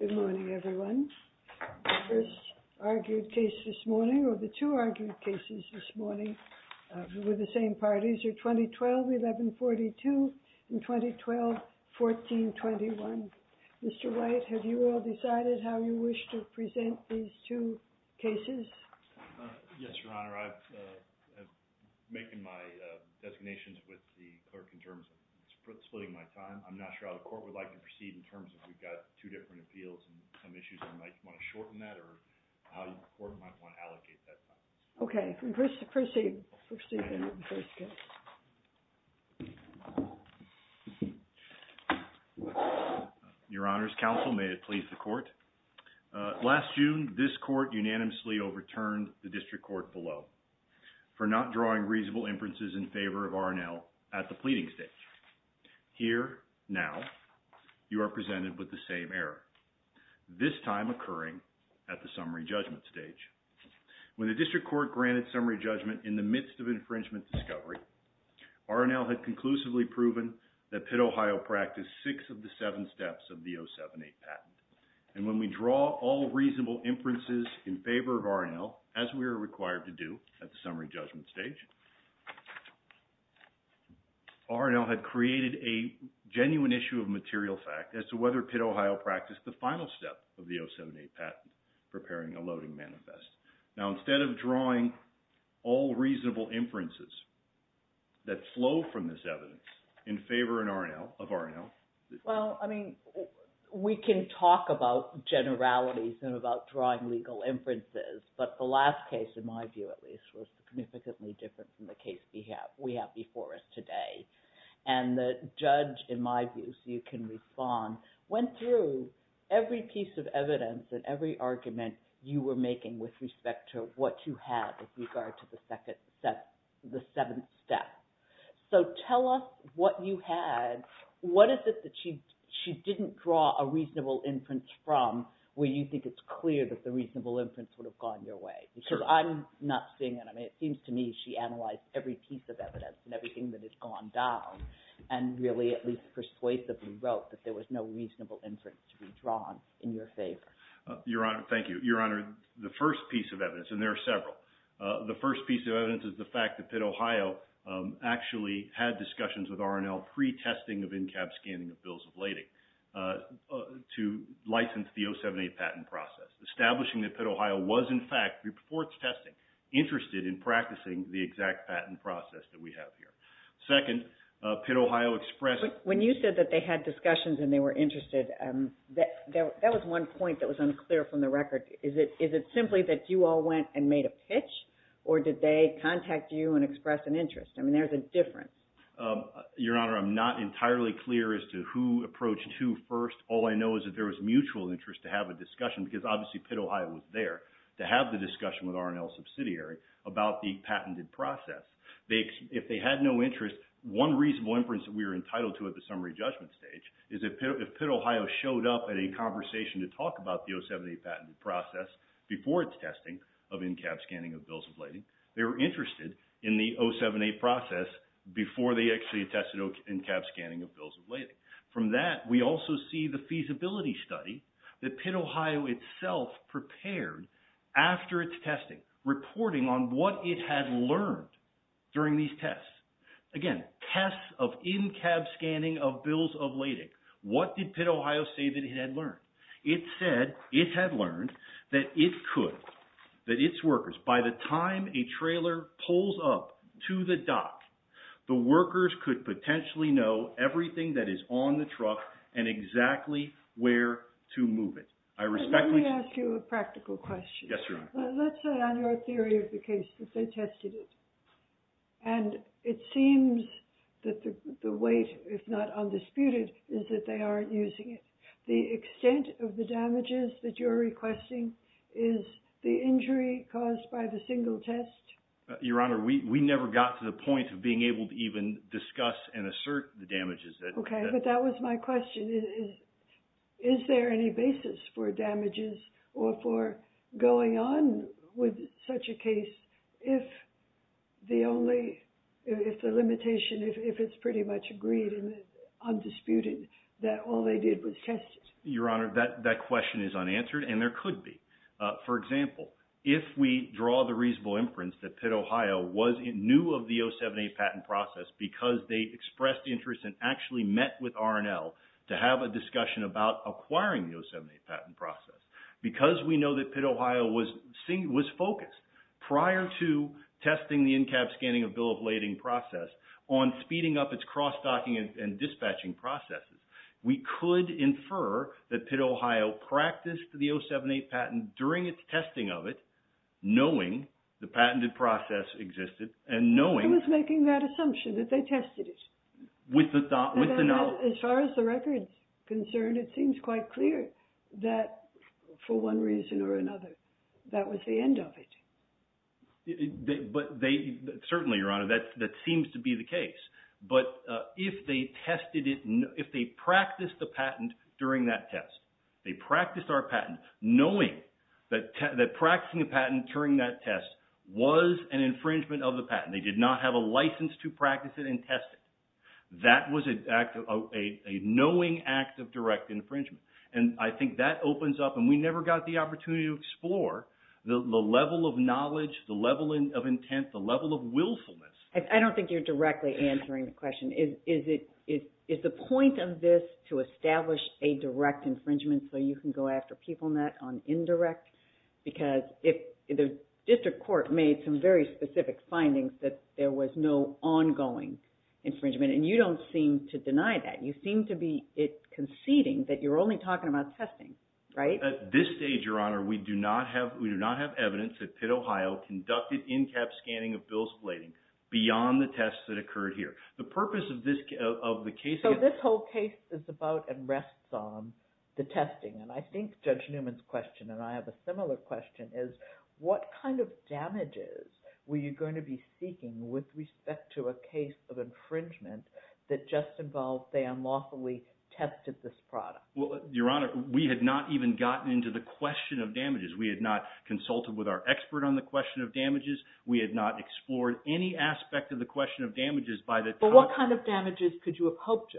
The first argued case this morning, or the two argued cases this morning, were the same parties, 2012-11-42 and 2012-14-21. Mr. White, have you all decided how you wish to present these two cases? Yes, Your Honor. I've made my designations with the clerk in terms of splitting my time. I'm not sure how the court would like to proceed in terms of we've got two different appeals and some issues. I might want to shorten that or the court might want to allocate that time. Okay. Proceed. Proceed with the first case. Your Honor's counsel, may it please the court. Last June, this court unanimously overturned the district court below for not drawing reasonable inferences in favor of R&L at the pleading stage. Here, now, you are presented with the same error. This time occurring at the summary judgment stage. When the district court granted summary judgment in the midst of infringement discovery, R&L had conclusively proven that Pitt Ohio practiced six of the seven steps of the 07-8 patent. And when we draw all reasonable inferences in favor of R&L, as we are required to do at the summary judgment stage, R&L had created a genuine issue of material fact as to whether Pitt Ohio practiced the final step of the 07-8 patent, preparing a loading manifest. Now, instead of drawing all reasonable inferences that flow from this evidence in favor of R&L. Well, I mean, we can talk about generalities and about drawing legal inferences, but the last case, in my view at least, was significantly different from the case we have before us today. And the judge, in my view, so you can respond, went through every piece of evidence and every argument you were making with respect to what you had with regard to the second step, the seventh step. So tell us what you had, what is it that she didn't draw a reasonable inference from where you think it's clear that the reasonable inference would have gone your way? Because I'm not seeing it. I mean, it seems to me she analyzed every piece of evidence and everything that has gone down and really at least persuasively wrote that there was no reasonable inference to be drawn in your favor. Your Honor, thank you. Your Honor, the first piece of evidence, and there are several. The first piece of evidence is the fact that Pitt, Ohio actually had discussions with R&L pre-testing of in-cab scanning of bills of lading to license the 078 patent process. Establishing that Pitt, Ohio was in fact, before its testing, interested in practicing the exact patent process that we have here. Second, Pitt, Ohio expressed... When you said that they had discussions and they were interested, that was one point that was unclear from the record. Is it simply that you all went and made a pitch or did they contact you and express an interest? I mean, there's a difference. Your Honor, I'm not entirely clear as to who approached who first. All I know is that there was mutual interest to have a discussion because obviously Pitt, Ohio was there to have the discussion with R&L subsidiary about the patented process. If they had no interest, one reasonable inference that we were entitled to at the summary judgment stage is that if Pitt, Ohio showed up at a conversation to talk about the 078 patent process before its testing of in-cab scanning of bills of lading, they were interested in the 078 process before they actually tested in-cab scanning of bills of lading. From that, we also see the feasibility study that Pitt, Ohio itself prepared after its testing, reporting on what it had learned during these tests. Again, tests of in-cab scanning of bills of lading. What did Pitt, Ohio say that it had learned? It said it had learned that it could, that its workers, by the time a trailer pulls up to the dock, the workers could potentially know everything that is on the truck and exactly where to move it. Let me ask you a practical question. Yes, Your Honor. Let's say on your theory of the case that they tested it and it seems that the weight, if not undisputed, is that they aren't using it. The extent of the damages that you're requesting is the injury caused by the single test. Your Honor, we never got to the point of being able to even discuss and assert the damages. Okay, but that was my question. Is there any basis for damages or for going on with such a case if the limitation, if it's pretty much agreed and undisputed that all they did was test it? Your Honor, that question is unanswered and there could be. For example, if we draw the reasonable inference that Pitt, Ohio knew of the 078 patent process because they expressed interest and actually met with R&L to have a discussion about acquiring the 078 patent process, because we know that Pitt, Ohio was focused prior to testing the in-cab scanning of bill of lading process on speeding up its cross docking and dispatching processes, we could infer that Pitt, Ohio practiced the 078 patent during its testing of it knowing the patented process existed and knowing. I was making that assumption that they tested it. With the knowledge. As far as the record's concerned, it seems quite clear that for one reason or another that was the end of it. Certainly, Your Honor, that seems to be the case. But if they practiced the patent during that test, they practiced our patent knowing that practicing a patent during that test was an infringement of the patent. They did not have a license to practice it in testing. That was a knowing act of direct infringement. And I think that opens up, and we never got the opportunity to explore, the level of knowledge, the level of intent, the level of willfulness. I don't think you're directly answering the question. Is the point of this to establish a direct infringement so you can go after people on that on indirect? Because the district court made some very specific findings that there was no ongoing infringement, and you don't seem to deny that. You seem to be conceding that you're only talking about testing, right? At this stage, Your Honor, we do not have evidence that Pitt, Ohio, conducted in-cap scanning of bills of lading beyond the tests that occurred here. The purpose of the case… So this whole case is about and rests on the testing. And I think Judge Newman's question, and I have a similar question, is what kind of damages were you going to be seeking with respect to a case of infringement that just involved they unlawfully tested this product? Well, Your Honor, we had not even gotten into the question of damages. We had not consulted with our expert on the question of damages. We had not explored any aspect of the question of damages by the time… But what kind of damages could you have hoped to?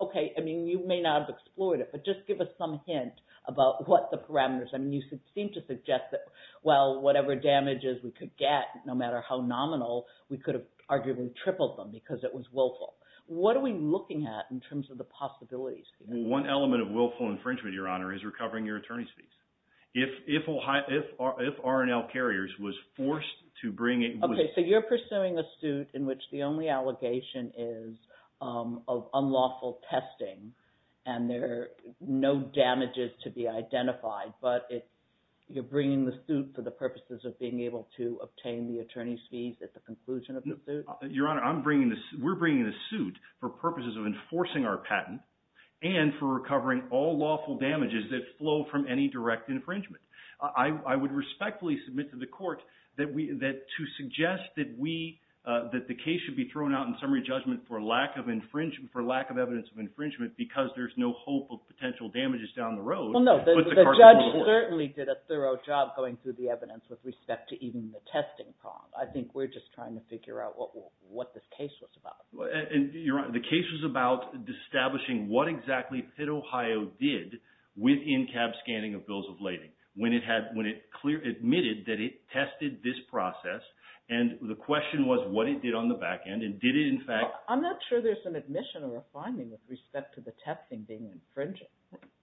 Okay. I mean, you may not have explored it, but just give us some hint about what the parameters… I mean, you seem to suggest that, well, whatever damages we could get, no matter how nominal, we could have arguably tripled them because it was willful. What are we looking at in terms of the possibilities? Well, one element of willful infringement, Your Honor, is recovering your attorney's fees. If R&L Carriers was forced to bring it… Okay, so you're pursuing a suit in which the only allegation is of unlawful testing, and there are no damages to be identified, but you're bringing the suit for the purposes of being able to obtain the attorney's fees at the conclusion of the suit? Your Honor, we're bringing the suit for purposes of enforcing our patent and for recovering all lawful damages that flow from any direct infringement. I would respectfully submit to the court that to suggest that the case should be thrown out in summary judgment for lack of evidence of infringement because there's no hope of potential damages down the road… Well, no, the judge certainly did a thorough job going through the evidence with respect to even the testing problem. I think we're just trying to figure out what this case was about. The case was about establishing what exactly Pitt, Ohio, did with in-cab scanning of bills of lading when it admitted that it tested this process, and the question was what it did on the back end, and did it in fact… I'm not sure there's an admission or a finding with respect to the testing being infringed.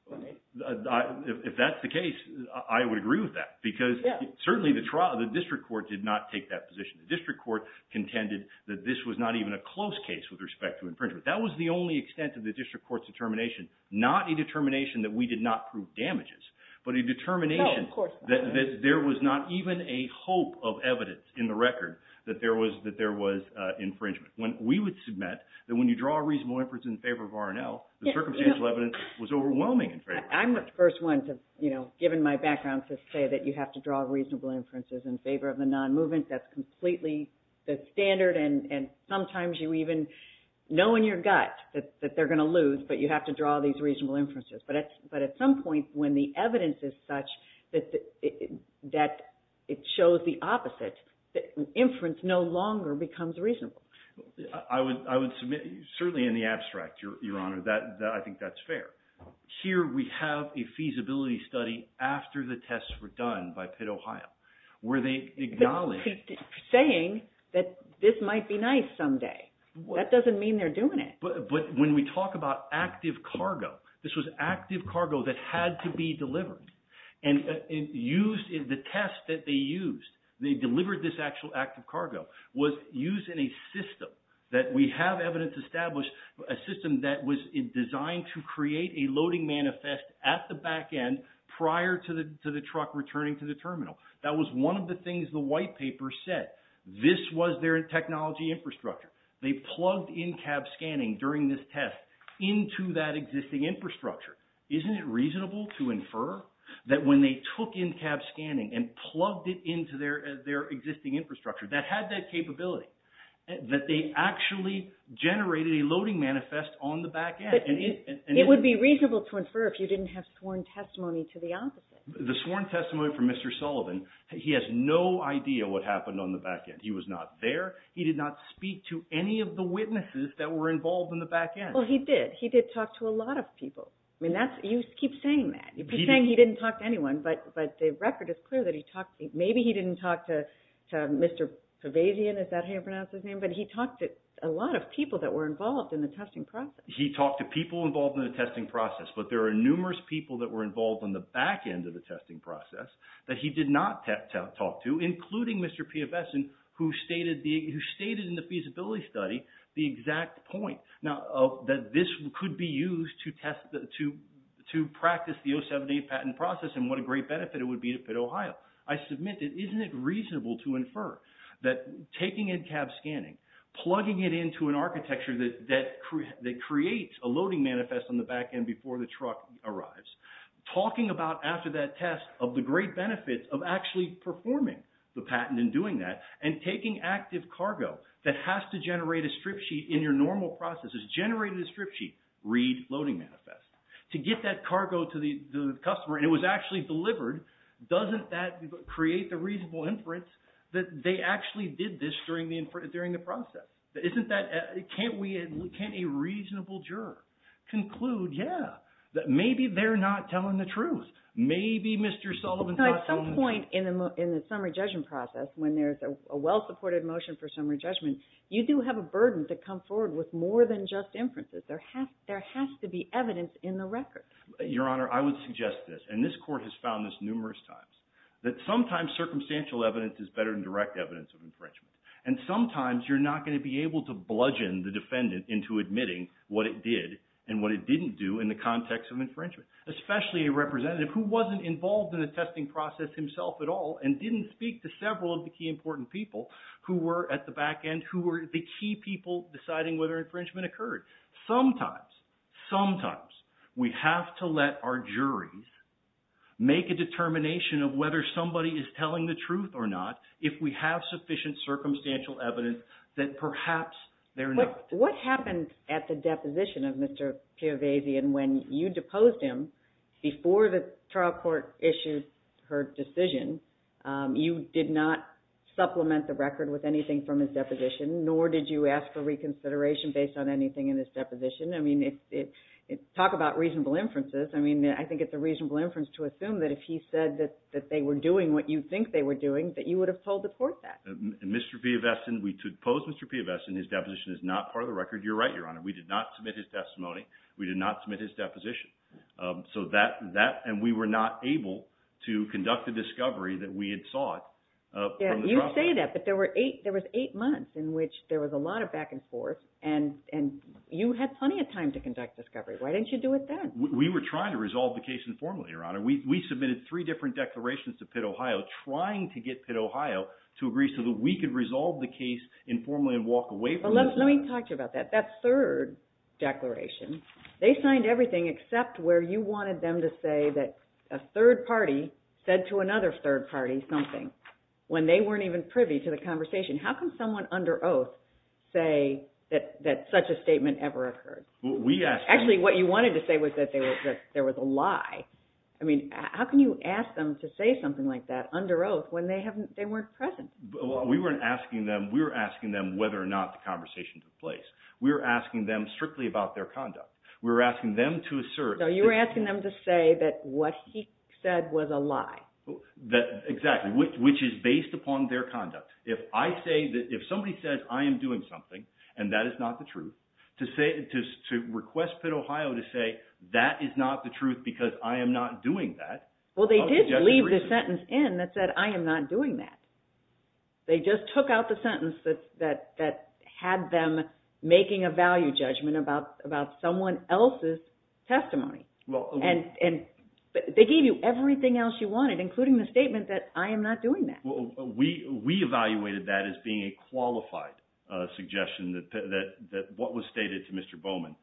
If that's the case, I would agree with that because certainly the district court did not take that position. The district court contended that this was not even a close case with respect to infringement. That was the only extent of the district court's determination, not a determination that we did not prove damages, but a determination that there was not even a hope of evidence in the record that there was infringement. We would submit that when you draw a reasonable inference in favor of R&L, the circumstantial evidence was overwhelming in favor of R&L. I'm the first one, given my background, to say that you have to draw reasonable inferences in favor of the non-movement. That's completely the standard, and sometimes you even know in your gut that they're going to lose, but you have to draw these reasonable inferences. But at some point when the evidence is such that it shows the opposite, inference no longer becomes reasonable. I would submit, certainly in the abstract, Your Honor, that I think that's fair. Here we have a feasibility study after the tests were done by Pitt, Ohio, where they acknowledged... Saying that this might be nice someday. That doesn't mean they're doing it. But when we talk about active cargo, this was active cargo that had to be delivered. And the test that they used, they delivered this actual active cargo, was used in a system that we have evidence to establish, a system that was designed to create a loading manifest at the back end prior to the truck returning to the terminal. That was one of the things the white paper said. This was their technology infrastructure. They plugged in-cab scanning during this test into that existing infrastructure. Isn't it reasonable to infer that when they took in-cab scanning and plugged it into their existing infrastructure that had that capability, that they actually generated a loading manifest on the back end? It would be reasonable to infer if you didn't have sworn testimony to the opposite. The sworn testimony from Mr. Sullivan, he has no idea what happened on the back end. He was not there. He did not speak to any of the witnesses that were involved in the back end. Well, he did. He did talk to a lot of people. I mean, you keep saying that. You keep saying he didn't talk to anyone, but the record is clear that he talked – maybe he didn't talk to Mr. Pavazian. Is that how you pronounce his name? But he talked to a lot of people that were involved in the testing process. He talked to people involved in the testing process, but there are numerous people that were involved on the back end of the testing process that he did not talk to, including Mr. Piavesan, who stated in the feasibility study the exact point. Now, this could be used to practice the 078 patent process, and what a great benefit it would be to Pitt, Ohio. I submit that isn't it reasonable to infer that taking in cab scanning, plugging it into an architecture that creates a loading manifest on the back end before the truck arrives, talking about after that test of the great benefits of actually performing the patent and doing that, and taking active cargo that has to generate a strip sheet in your normal processes, generate a strip sheet, read loading manifest. To get that cargo to the customer and it was actually delivered, doesn't that create the reasonable inference that they actually did this during the process? Can't a reasonable juror conclude, yeah, that maybe they're not telling the truth? Maybe Mr. Sullivan's not telling the truth. At some point in the summary judgment process when there's a well-supported motion for summary judgment, you do have a burden to come forward with more than just inferences. There has to be evidence in the record. Your Honor, I would suggest this, and this court has found this numerous times, that sometimes circumstantial evidence is better than direct evidence of infringement. And sometimes you're not going to be able to bludgeon the defendant into admitting what it did and what it didn't do in the context of infringement. Especially a representative who wasn't involved in the testing process himself at all and didn't speak to several of the key important people who were at the back end, who were the key people deciding whether infringement occurred. Sometimes, sometimes we have to let our juries make a determination of whether somebody is telling the truth or not if we have sufficient circumstantial evidence that perhaps they're not. What happened at the deposition of Mr. Piovesan when you deposed him before the trial court issued her decision? You did not supplement the record with anything from his deposition, nor did you ask for reconsideration based on anything in his deposition. I mean, talk about reasonable inferences. I mean, I think it's a reasonable inference to assume that if he said that they were doing what you think they were doing, that you would have told the court that. Mr. Piovesan, to depose Mr. Piovesan, his deposition is not part of the record. You're right, Your Honor. We did not submit his testimony. We did not submit his deposition. So that, and we were not able to conduct the discovery that we had sought from the trial court. You say that, but there was eight months in which there was a lot of back and forth, and you had plenty of time to conduct discovery. Why didn't you do it then? We were trying to resolve the case informally, Your Honor. We submitted three different declarations to Pitt, Ohio, trying to get Pitt, Ohio to agree so that we could resolve the case informally and walk away from it. Let me talk to you about that. That third declaration, they signed everything except where you wanted them to say that a third party said to another third party something when they weren't even privy to the conversation. How can someone under oath say that such a statement ever occurred? We asked them. Actually, what you wanted to say was that there was a lie. I mean, how can you ask them to say something like that under oath when they weren't present? We weren't asking them. We were asking them whether or not the conversation took place. We were asking them strictly about their conduct. We were asking them to assert. So you were asking them to say that what he said was a lie. Exactly, which is based upon their conduct. If somebody says I am doing something and that is not the truth, to request Pitt, Ohio to say that is not the truth because I am not doing that. Well, they did leave the sentence in that said I am not doing that. They just took out the sentence that had them making a value judgment about someone else's testimony. They gave you everything else you wanted, including the statement that I am not doing that. We evaluated that as being a qualified suggestion that what was stated to Mr. Bowman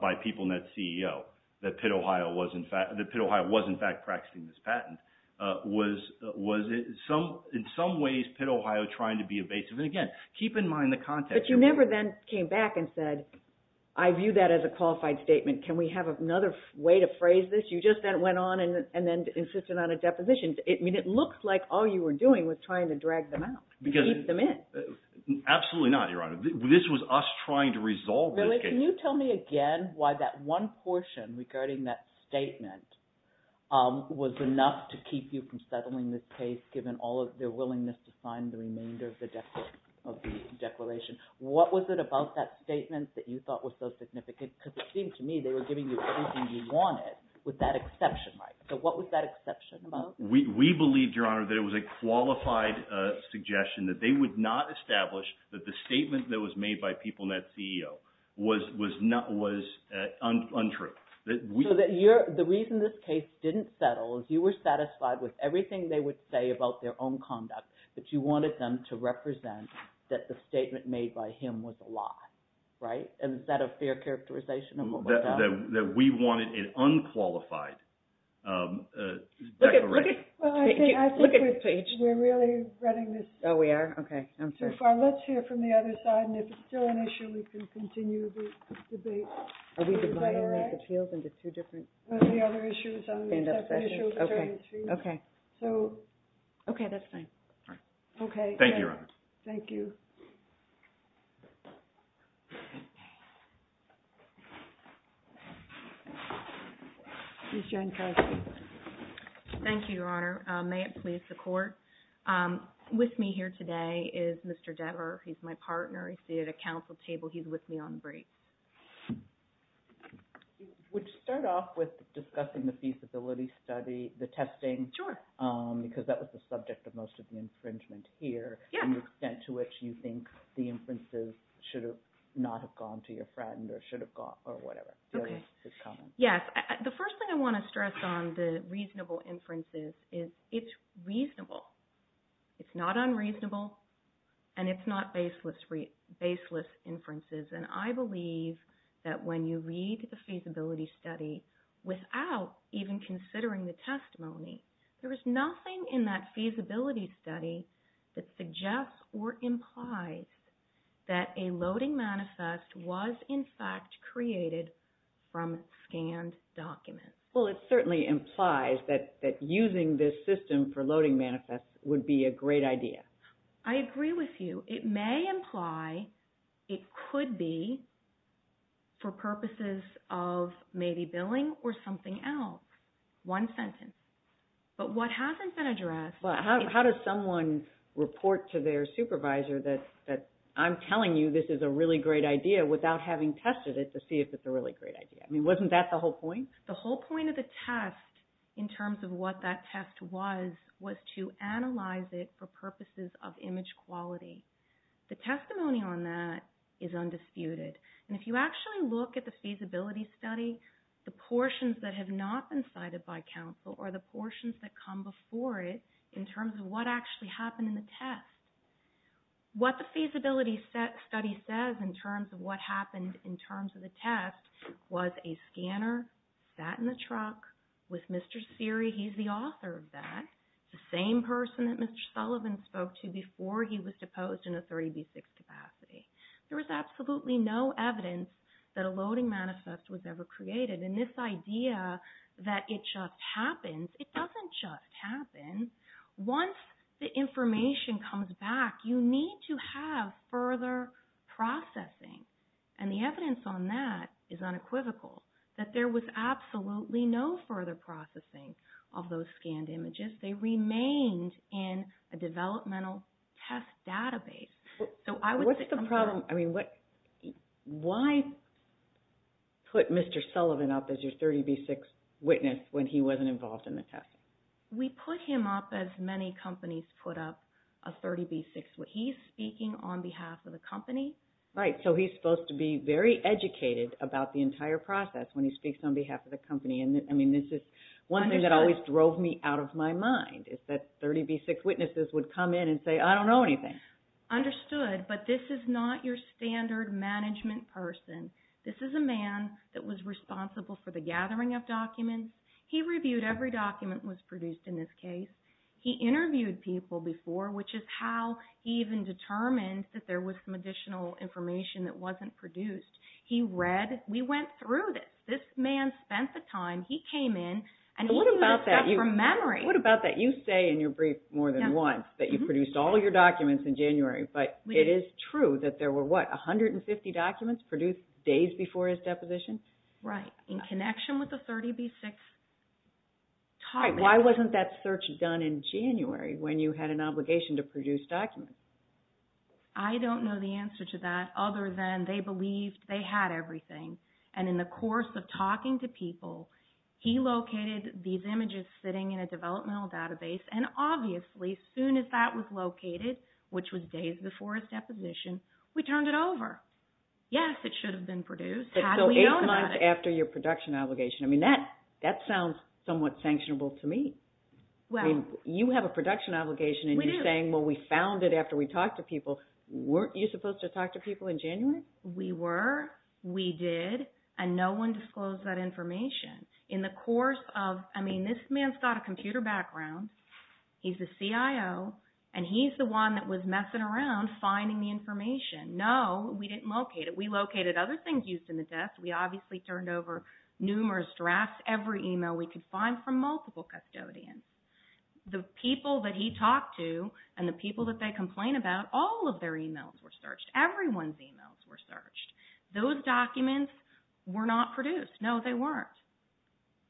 by PeopleNet CEO, that Pitt, Ohio was in fact practicing this patent, was in some ways Pitt, Ohio trying to be evasive. And, again, keep in mind the context. But you never then came back and said I view that as a qualified statement. Can we have another way to phrase this? You just then went on and then insisted on a deposition. It looks like all you were doing was trying to drag them out and keep them in. Absolutely not, Your Honor. This was us trying to resolve this case. Really? Can you tell me again why that one portion regarding that statement was enough to keep you from settling this case given all of their willingness to sign the remainder of the declaration? What was it about that statement that you thought was so significant? Because it seemed to me they were giving you everything you wanted with that exception, right? So what was that exception about? We believed, Your Honor, that it was a qualified suggestion that they would not establish that the statement that was made by PeopleNet CEO was untrue. So the reason this case didn't settle is you were satisfied with everything they would say about their own conduct, but you wanted them to represent that the statement made by him was a lie, right? Is that a fair characterization of what was done? That we wanted an unqualified declaration. Well, I think we're really running this too far. Let's hear from the other side, and if it's still an issue, we can continue the debate. Are we planning to make appeals in the two different stand-up sessions? Okay, that's fine. Thank you, Your Honor. Thank you. Ms. Jankowski. Thank you, Your Honor. May it please the Court, with me here today is Mr. Depper. He's my partner. He's seated at Council table. He's with me on the break. Would you start off with discussing the feasibility study, the testing? Sure. Because that was the subject of most of the infringement here. Yeah. And the extent to which you think the inferences should not have gone to your friend or should have gone, or whatever. Okay. Yes, the first thing I want to stress on the reasonable inferences is it's reasonable. It's not unreasonable, and it's not baseless inferences. And I believe that when you read the feasibility study without even considering the testimony, there is nothing in that feasibility study that suggests or implies that a loading manifest was, in fact, created from scanned documents. Well, it certainly implies that using this system for loading manifests would be a great idea. I agree with you. It may imply it could be for purposes of maybe billing or something else, one sentence. But what hasn't been addressed… But how does someone report to their supervisor that I'm telling you this is a really great idea without having tested it to see if it's a really great idea? I mean, wasn't that the whole point? The whole point of the test, in terms of what that test was, was to analyze it for purposes of image quality. The testimony on that is undisputed. And if you actually look at the feasibility study, the portions that have not been cited by counsel are the portions that come before it in terms of what actually happened in the test. What the feasibility study says in terms of what happened in terms of the test was a scanner sat in the truck with Mr. Seery. He's the author of that, the same person that Mr. Sullivan spoke to before he was deposed in a 30B6 capacity. There was absolutely no evidence that a loading manifest was ever created. And this idea that it just happens, it doesn't just happen. Once the information comes back, you need to have further processing. And the evidence on that is unequivocal, that there was absolutely no further processing of those scanned images. They remained in a developmental test database. What's the problem? I mean, why put Mr. Sullivan up as your 30B6 witness when he wasn't involved in the test? We put him up as many companies put up a 30B6 witness. He's speaking on behalf of the company. Right, so he's supposed to be very educated about the entire process when he speaks on behalf of the company. I mean, this is one thing that always drove me out of my mind, is that 30B6 witnesses would come in and say, I don't know anything. Understood, but this is not your standard management person. This is a man that was responsible for the gathering of documents. He reviewed every document that was produced in this case. He interviewed people before, which is how he even determined that there was some additional information that wasn't produced. He read, we went through this. This man spent the time, he came in, and he looked up from memory. What about that? You say in your brief more than once that you produced all your documents in January. But it is true that there were, what, 150 documents produced days before his deposition? Right, in connection with the 30B6 document. Why wasn't that search done in January when you had an obligation to produce documents? I don't know the answer to that other than they believed they had everything. And in the course of talking to people, he located these images sitting in a developmental database. And obviously, soon as that was located, which was days before his deposition, we turned it over. Yes, it should have been produced had we known about it. So eight months after your production obligation. I mean, that sounds somewhat sanctionable to me. You have a production obligation and you're saying, well, we found it after we talked to people. Weren't you supposed to talk to people in January? We were, we did, and no one disclosed that information. In the course of, I mean, this man's got a computer background. He's a CIO, and he's the one that was messing around finding the information. No, we didn't locate it. We located other things used in the desk. We obviously turned over numerous drafts, every email we could find from multiple custodians. The people that he talked to and the people that they complain about, all of their emails were searched. Everyone's emails were searched. Those documents were not produced. No, they weren't.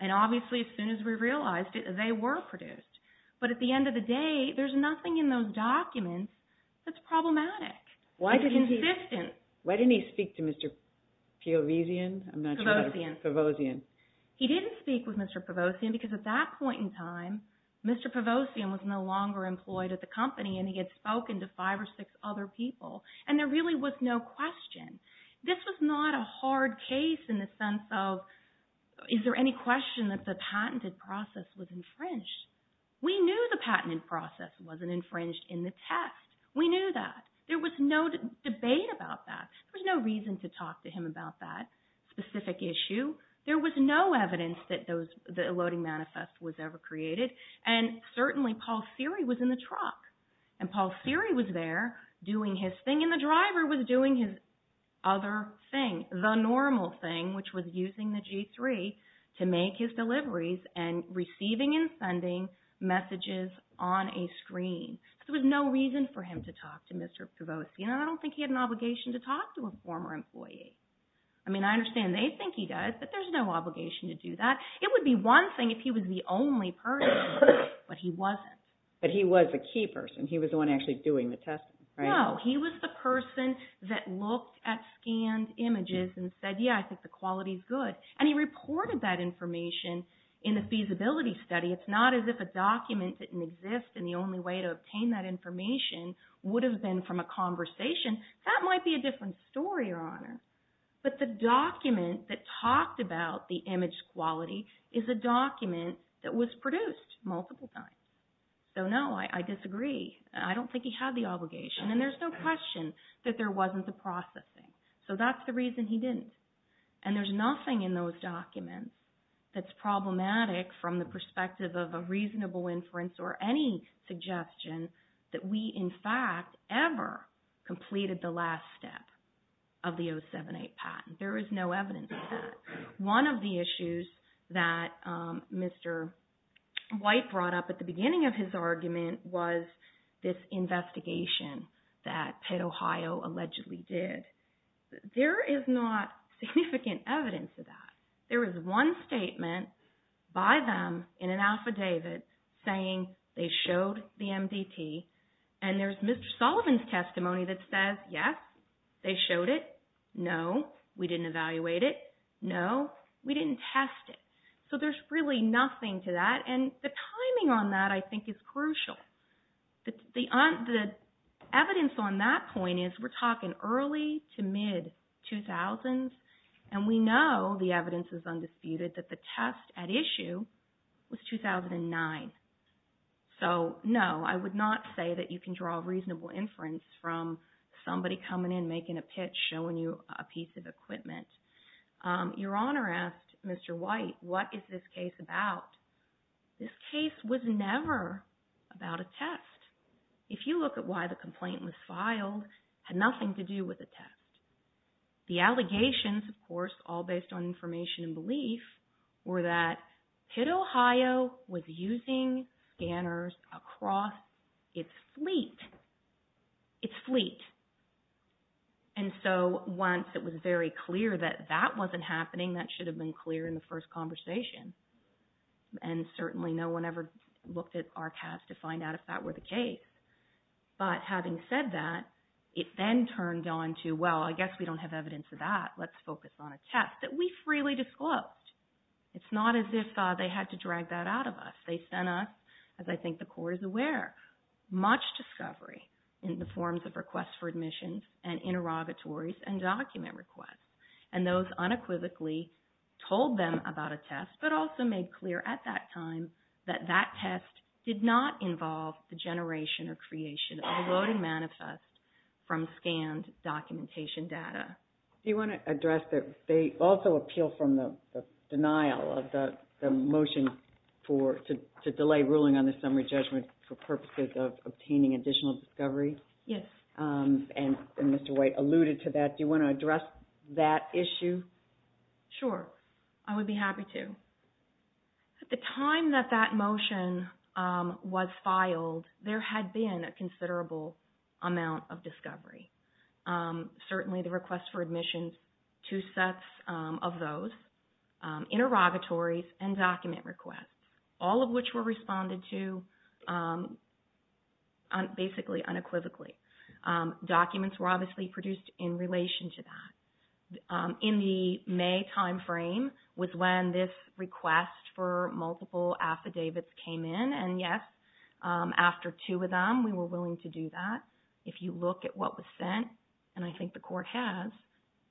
And obviously, as soon as we realized it, they were produced. Why didn't he speak to Mr. Peovizian? Pevozian. Pevozian. He didn't speak with Mr. Pevozian because at that point in time, Mr. Pevozian was no longer employed at the company, and he had spoken to five or six other people, and there really was no question. This was not a hard case in the sense of, is there any question that the patented process was infringed? We knew the patent process wasn't infringed in the text. We knew that. There was no debate about that. There was no reason to talk to him about that specific issue. There was no evidence that the Loading Manifest was ever created, and certainly Paul Seery was in the truck, and Paul Seery was there doing his thing, and the driver was doing his other thing, the normal thing, which was using the G3 to make his deliveries and receiving and sending messages on a screen. There was no reason for him to talk to Mr. Pevozian, and I don't think he had an obligation to talk to a former employee. I mean, I understand they think he does, but there's no obligation to do that. It would be one thing if he was the only person, but he wasn't. But he was a key person. He was the one actually doing the testing, right? No. He was the person that looked at scanned images and said, yeah, I think the quality's good, and he reported that information in the feasibility study. It's not as if a document didn't exist, and the only way to obtain that information would have been from a conversation. That might be a different story, Your Honor. But the document that talked about the image quality is a document that was produced multiple times. So no, I disagree. I don't think he had the obligation, and there's no question that there wasn't the processing. So that's the reason he didn't. And there's nothing in those documents that's problematic from the perspective of a reasonable inference or any suggestion that we, in fact, ever completed the last step of the 07-8 patent. There is no evidence of that. One of the issues that Mr. White brought up at the beginning of his argument was this investigation that Pitt, Ohio, allegedly did. There is not significant evidence of that. There is one statement by them in an affidavit saying they showed the MDT, and there's Mr. Sullivan's testimony that says, yes, they showed it. No, we didn't evaluate it. No, we didn't test it. So there's really nothing to that, and the timing on that, I think, is crucial. The evidence on that point is we're talking early to mid-2000s, and we know the evidence is undisputed that the test at issue was 2009. So no, I would not say that you can draw a reasonable inference from somebody coming in, making a pitch, showing you a piece of equipment. Your Honor asked Mr. White, what is this case about? This case was never about a test. If you look at why the complaint was filed, it had nothing to do with a test. The allegations, of course, all based on information and belief, were that Pitt, Ohio, was using scanners across its fleet. Its fleet. And so once it was very clear that that wasn't happening, that should have been clear in the first conversation. And certainly no one ever looked at archives to find out if that were the case. But having said that, it then turned on to, well, I guess we don't have evidence of that. Let's focus on a test that we freely disclosed. It's not as if they had to drag that out of us. They sent us, as I think the Court is aware, much discovery in the forms of requests for admissions and interrogatories and document requests. And those unequivocally told them about a test, but also made clear at that time that that test did not involve the generation or creation of a loading manifest from scanned documentation data. Do you want to address that they also appeal from the denial of the motion to delay ruling on the summary judgment for purposes of obtaining additional discovery? Yes. And Mr. White alluded to that. Do you want to address that issue? Sure. I would be happy to. At the time that that motion was filed, there had been a considerable amount of discovery. Certainly the request for admissions, two sets of those, interrogatories and document requests, all of which were responded to basically unequivocally. Documents were obviously produced in relation to that. In the May timeframe was when this request for multiple affidavits came in, and yes, after two of them, we were willing to do that. If you look at what was sent, and I think the court has,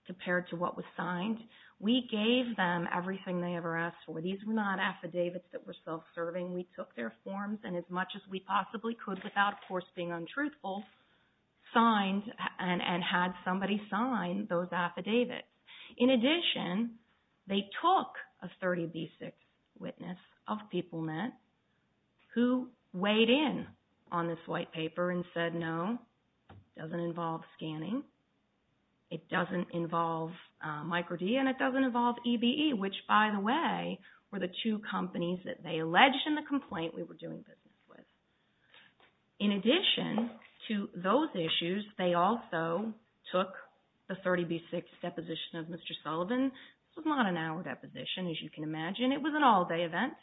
compared to what was signed, we gave them everything they ever asked for. These were not affidavits that were self-serving. We took their forms and as much as we possibly could without, of course, being untruthful, signed and had somebody sign those affidavits. In addition, they took a 30B6 witness of PeopleNet who weighed in on this white paper and said, no, it doesn't involve scanning. It doesn't involve micro-D and it doesn't involve EBE, which, by the way, were the two companies that they alleged in the complaint we were doing business with. In addition to those issues, they also took the 30B6 deposition of Mr. Sullivan. It was not an hour deposition, as you can imagine. It was an all-day event.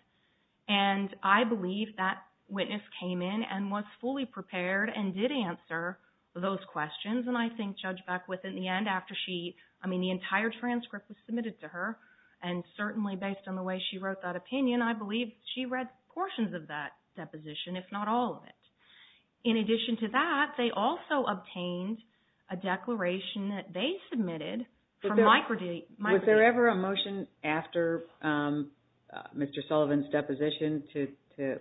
And I believe that witness came in and was fully prepared and did answer those questions. And I think Judge Beckwith, in the end, after she, I mean, the entire transcript was submitted to her, and certainly based on the way she wrote that opinion, I believe she read portions of that deposition, if not all of it. In addition to that, they also obtained a declaration that they submitted from micro-D. Was there ever a motion after Mr. Sullivan's deposition to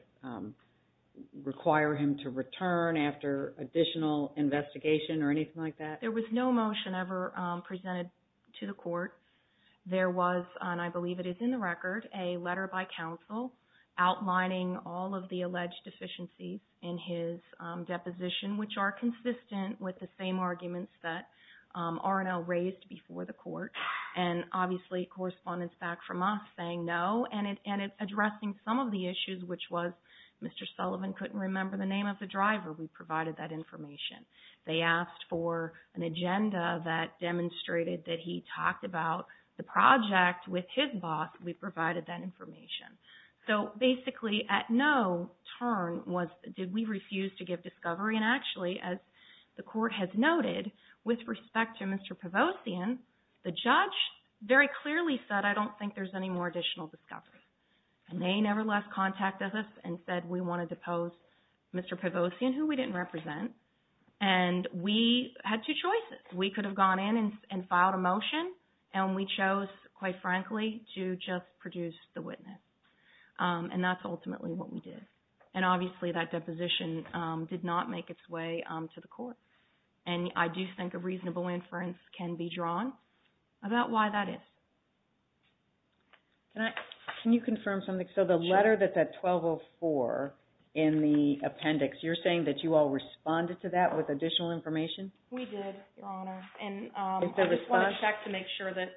require him to return after additional investigation or anything like that? There was no motion ever presented to the court. There was, and I believe it is in the record, a letter by counsel outlining all of the alleged deficiencies in his deposition, which are consistent with the same arguments that R&L raised before the court. And, obviously, correspondence back from us saying no and addressing some of the issues, which was Mr. Sullivan couldn't remember the name of the driver. We provided that information. They asked for an agenda that demonstrated that he talked about the project with his boss. We provided that information. So, basically, at no turn did we refuse to give discovery. And, actually, as the court has noted, with respect to Mr. Pavosian, the judge very clearly said, I don't think there's any more additional discovery. And they, nevertheless, contacted us and said we want to depose Mr. Pavosian, who we didn't represent. And we had two choices. We could have gone in and filed a motion, and we chose, quite frankly, to just produce the witness. And that's ultimately what we did. And, obviously, that deposition did not make its way to the court. And I do think a reasonable inference can be drawn about why that is. Can you confirm something? So, the letter that's at 1204 in the appendix, you're saying that you all responded to that with additional information? We did, Your Honor. Is there a response? And I just want to check to make sure that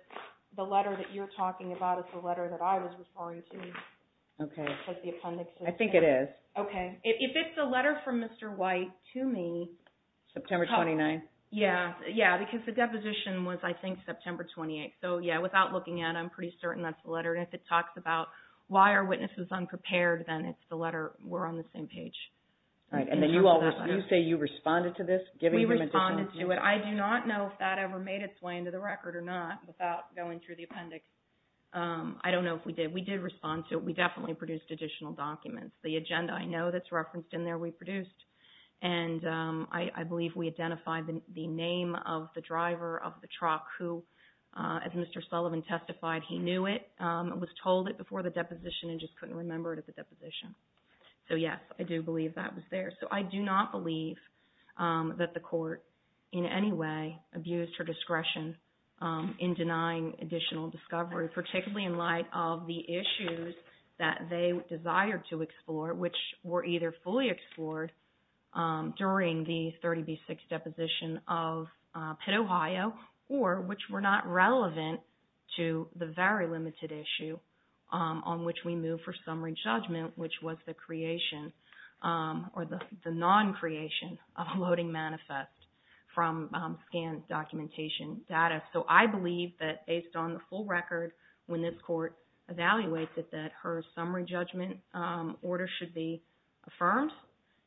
the letter that you're talking about is the letter that I was referring to. Okay. Because the appendix is there. I think it is. Okay. If it's the letter from Mr. White to me. September 29th. Yeah, because the deposition was, I think, September 28th. So, yeah, without looking at it, I'm pretty certain that's the letter. And if it talks about why are witnesses unprepared, then it's the letter. We're on the same page. All right. And then you say you responded to this? We responded to it. I do not know if that ever made its way into the record or not without going through the appendix. I don't know if we did. We did respond to it. We definitely produced additional documents. The agenda, I know, that's referenced in there, we produced. And I believe we identified the name of the driver of the truck who, as Mr. Sullivan testified, he knew it, was told it before the deposition and just couldn't remember it at the deposition. So, yes, I do believe that was there. So I do not believe that the court in any way abused her discretion in denying additional discovery, particularly in light of the issues that they desired to explore, which were either fully explored during the 30B6 deposition of Pitt, Ohio, or which were not relevant to the very limited issue on which we move for summary judgment, which was the creation or the non-creation of a loading manifest from scanned documentation data. So I believe that, based on the full record, when this court evaluates it, that her summary judgment order should be affirmed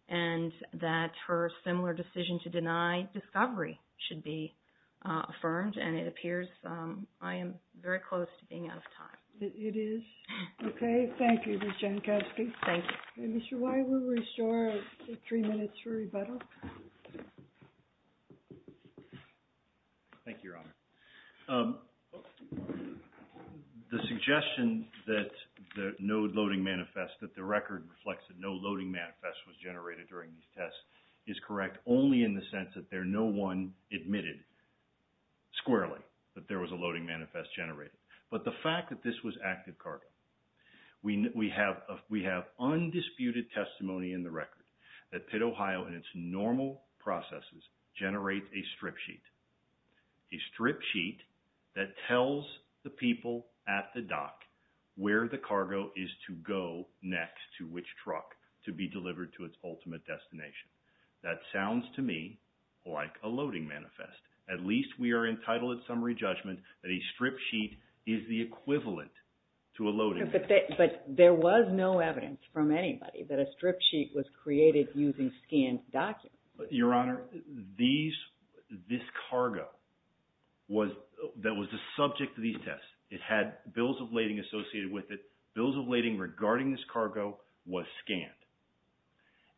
and that her similar decision to deny discovery should be affirmed. And it appears I am very close to being out of time. It is. Okay. Thank you, Ms. Jankowski. Thank you. Mr. Whyte, we'll restore three minutes for rebuttal. Thank you, Your Honor. The suggestion that the no loading manifest, that the record reflects that no loading manifest was generated during these tests is correct only in the sense that there no one admitted squarely that there was a loading manifest generated. But the fact that this was active cargo. We have undisputed testimony in the record that Pitt, Ohio and its normal processes generate a strip sheet. A strip sheet that tells the people at the dock where the cargo is to go next to which truck to be delivered to its ultimate destination. That sounds to me like a loading manifest. At least we are entitled at summary judgment that a strip sheet is the equivalent to a loading. But there was no evidence from anybody that a strip sheet was created using scanned documents. Your Honor, this cargo that was the subject of these tests, it had bills of lading associated with it. Bills of lading regarding this cargo was scanned.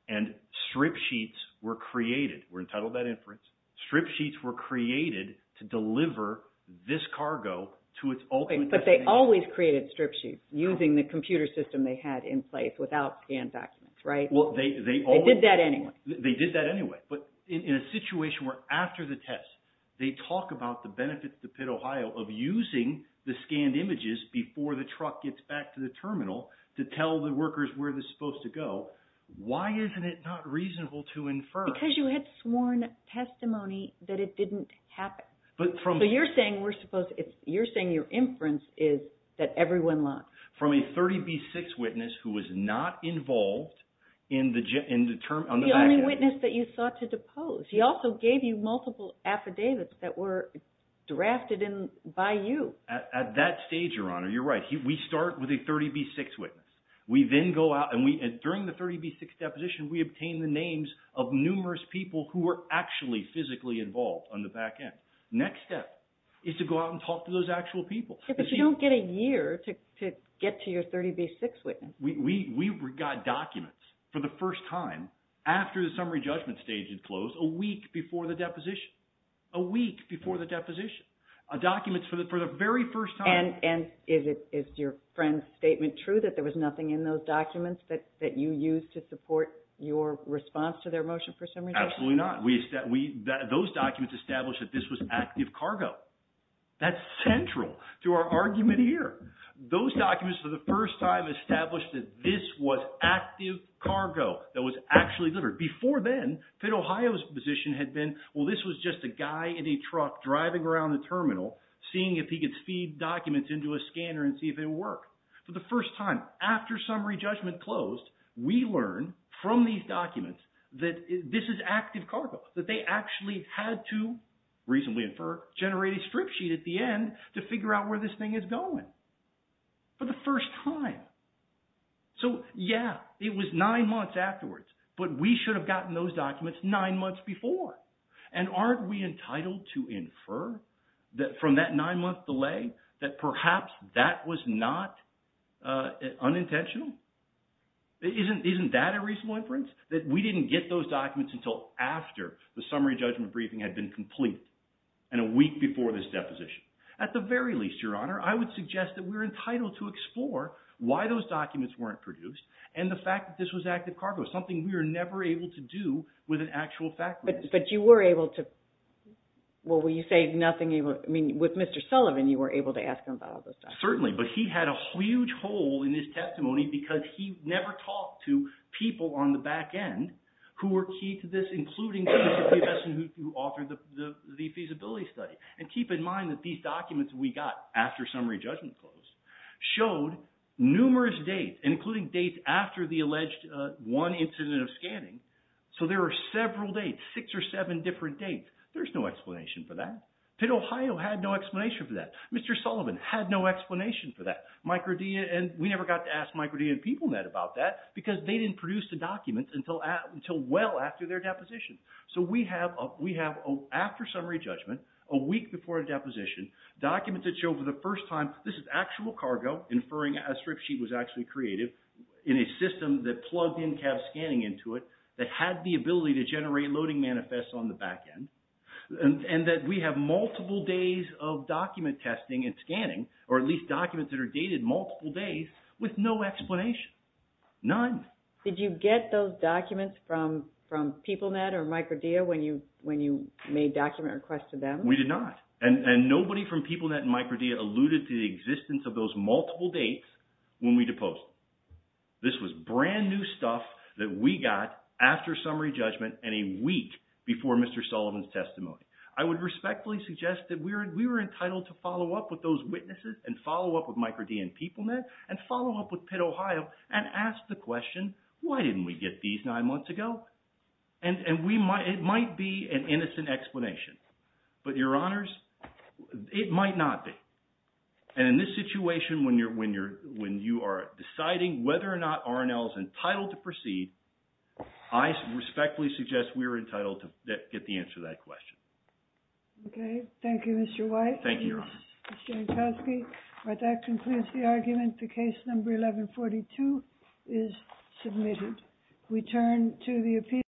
And strip sheets were created. We're entitled to that inference. Strip sheets were created to deliver this cargo to its ultimate destination. But they always created strip sheets using the computer system they had in place without scanned documents, right? They did that anyway. They did that anyway. But in a situation where after the test they talk about the benefits to Pitt, Ohio of using the scanned images before the truck gets back to the terminal to tell the workers where they're supposed to go. Why isn't it not reasonable to infer? Because you had sworn testimony that it didn't happen. So you're saying your inference is that everyone lost. From a 30B6 witness who was not involved in the… The only witness that you sought to depose. He also gave you multiple affidavits that were drafted by you. At that stage, Your Honor, you're right. We start with a 30B6 witness. We then go out and during the 30B6 deposition we obtain the names of numerous people who were actually physically involved on the back end. Next step is to go out and talk to those actual people. But you don't get a year to get to your 30B6 witness. We got documents for the first time after the summary judgment stage had closed a week before the deposition. A week before the deposition. Documents for the very first time. And is your friend's statement true that there was nothing in those documents that you used to support your response to their motion for summary judgment? Absolutely not. Those documents established that this was active cargo. That's central to our argument here. Those documents for the first time established that this was active cargo that was actually delivered. Before then, Pitt, Ohio's position had been, well, this was just a guy in a truck driving around the terminal seeing if he could feed documents into a scanner and see if it would work. For the first time, after summary judgment closed, we learned from these documents that this is active cargo. That they actually had to, reasonably infer, generate a strip sheet at the end to figure out where this thing is going. For the first time. So, yeah. It was nine months afterwards. But we should have gotten those documents nine months before. And aren't we entitled to infer from that nine-month delay that perhaps that was not unintentional? Isn't that a reasonable inference? That we didn't get those documents until after the summary judgment briefing had been complete and a week before this deposition. At the very least, Your Honor, I would suggest that we're entitled to explore why those documents weren't produced and the fact that this was active cargo. Something we were never able to do with an actual fact. But you were able to, well, when you say nothing, I mean, with Mr. Sullivan, you were able to ask him about all this stuff. Certainly. But he had a huge hole in his testimony because he never talked to people on the back end who were key to this, including the person who authored the feasibility study. And keep in mind that these documents we got after summary judgment closed showed numerous dates, including dates after the alleged one incident of scanning. So there were several dates, six or seven different dates. There's no explanation for that. Pitt, Ohio had no explanation for that. Mr. Sullivan had no explanation for that. We never got to ask Microdia and PeopleNet about that because they didn't produce the documents until well after their deposition. So we have, after summary judgment, a week before a deposition, documents that show for the first time this is actual cargo, inferring a strip sheet was actually created, in a system that plugged in-cab scanning into it, that had the ability to generate loading manifests on the back end. And that we have multiple days of document testing and scanning, or at least documents that are dated multiple days, with no explanation. None. Did you get those documents from PeopleNet or Microdia when you made document requests to them? We did not. And nobody from PeopleNet and Microdia alluded to the existence of those multiple dates when we deposed. This was brand new stuff that we got after summary judgment and a week before Mr. Sullivan's testimony. I would respectfully suggest that we were entitled to follow up with those witnesses, and follow up with Microdia and PeopleNet, and follow up with Pitt, Ohio, and ask the question, why didn't we get these nine months ago? And it might be an innocent explanation. But your honors, it might not be. And in this situation, when you are deciding whether or not R&L is entitled to proceed, I respectfully suggest we are entitled to get the answer to that question. Okay. Thank you, Mr. White. Thank you, your honors. Mr. Jankowski, that concludes the argument. The case number 1142 is submitted. We turn to the appeal.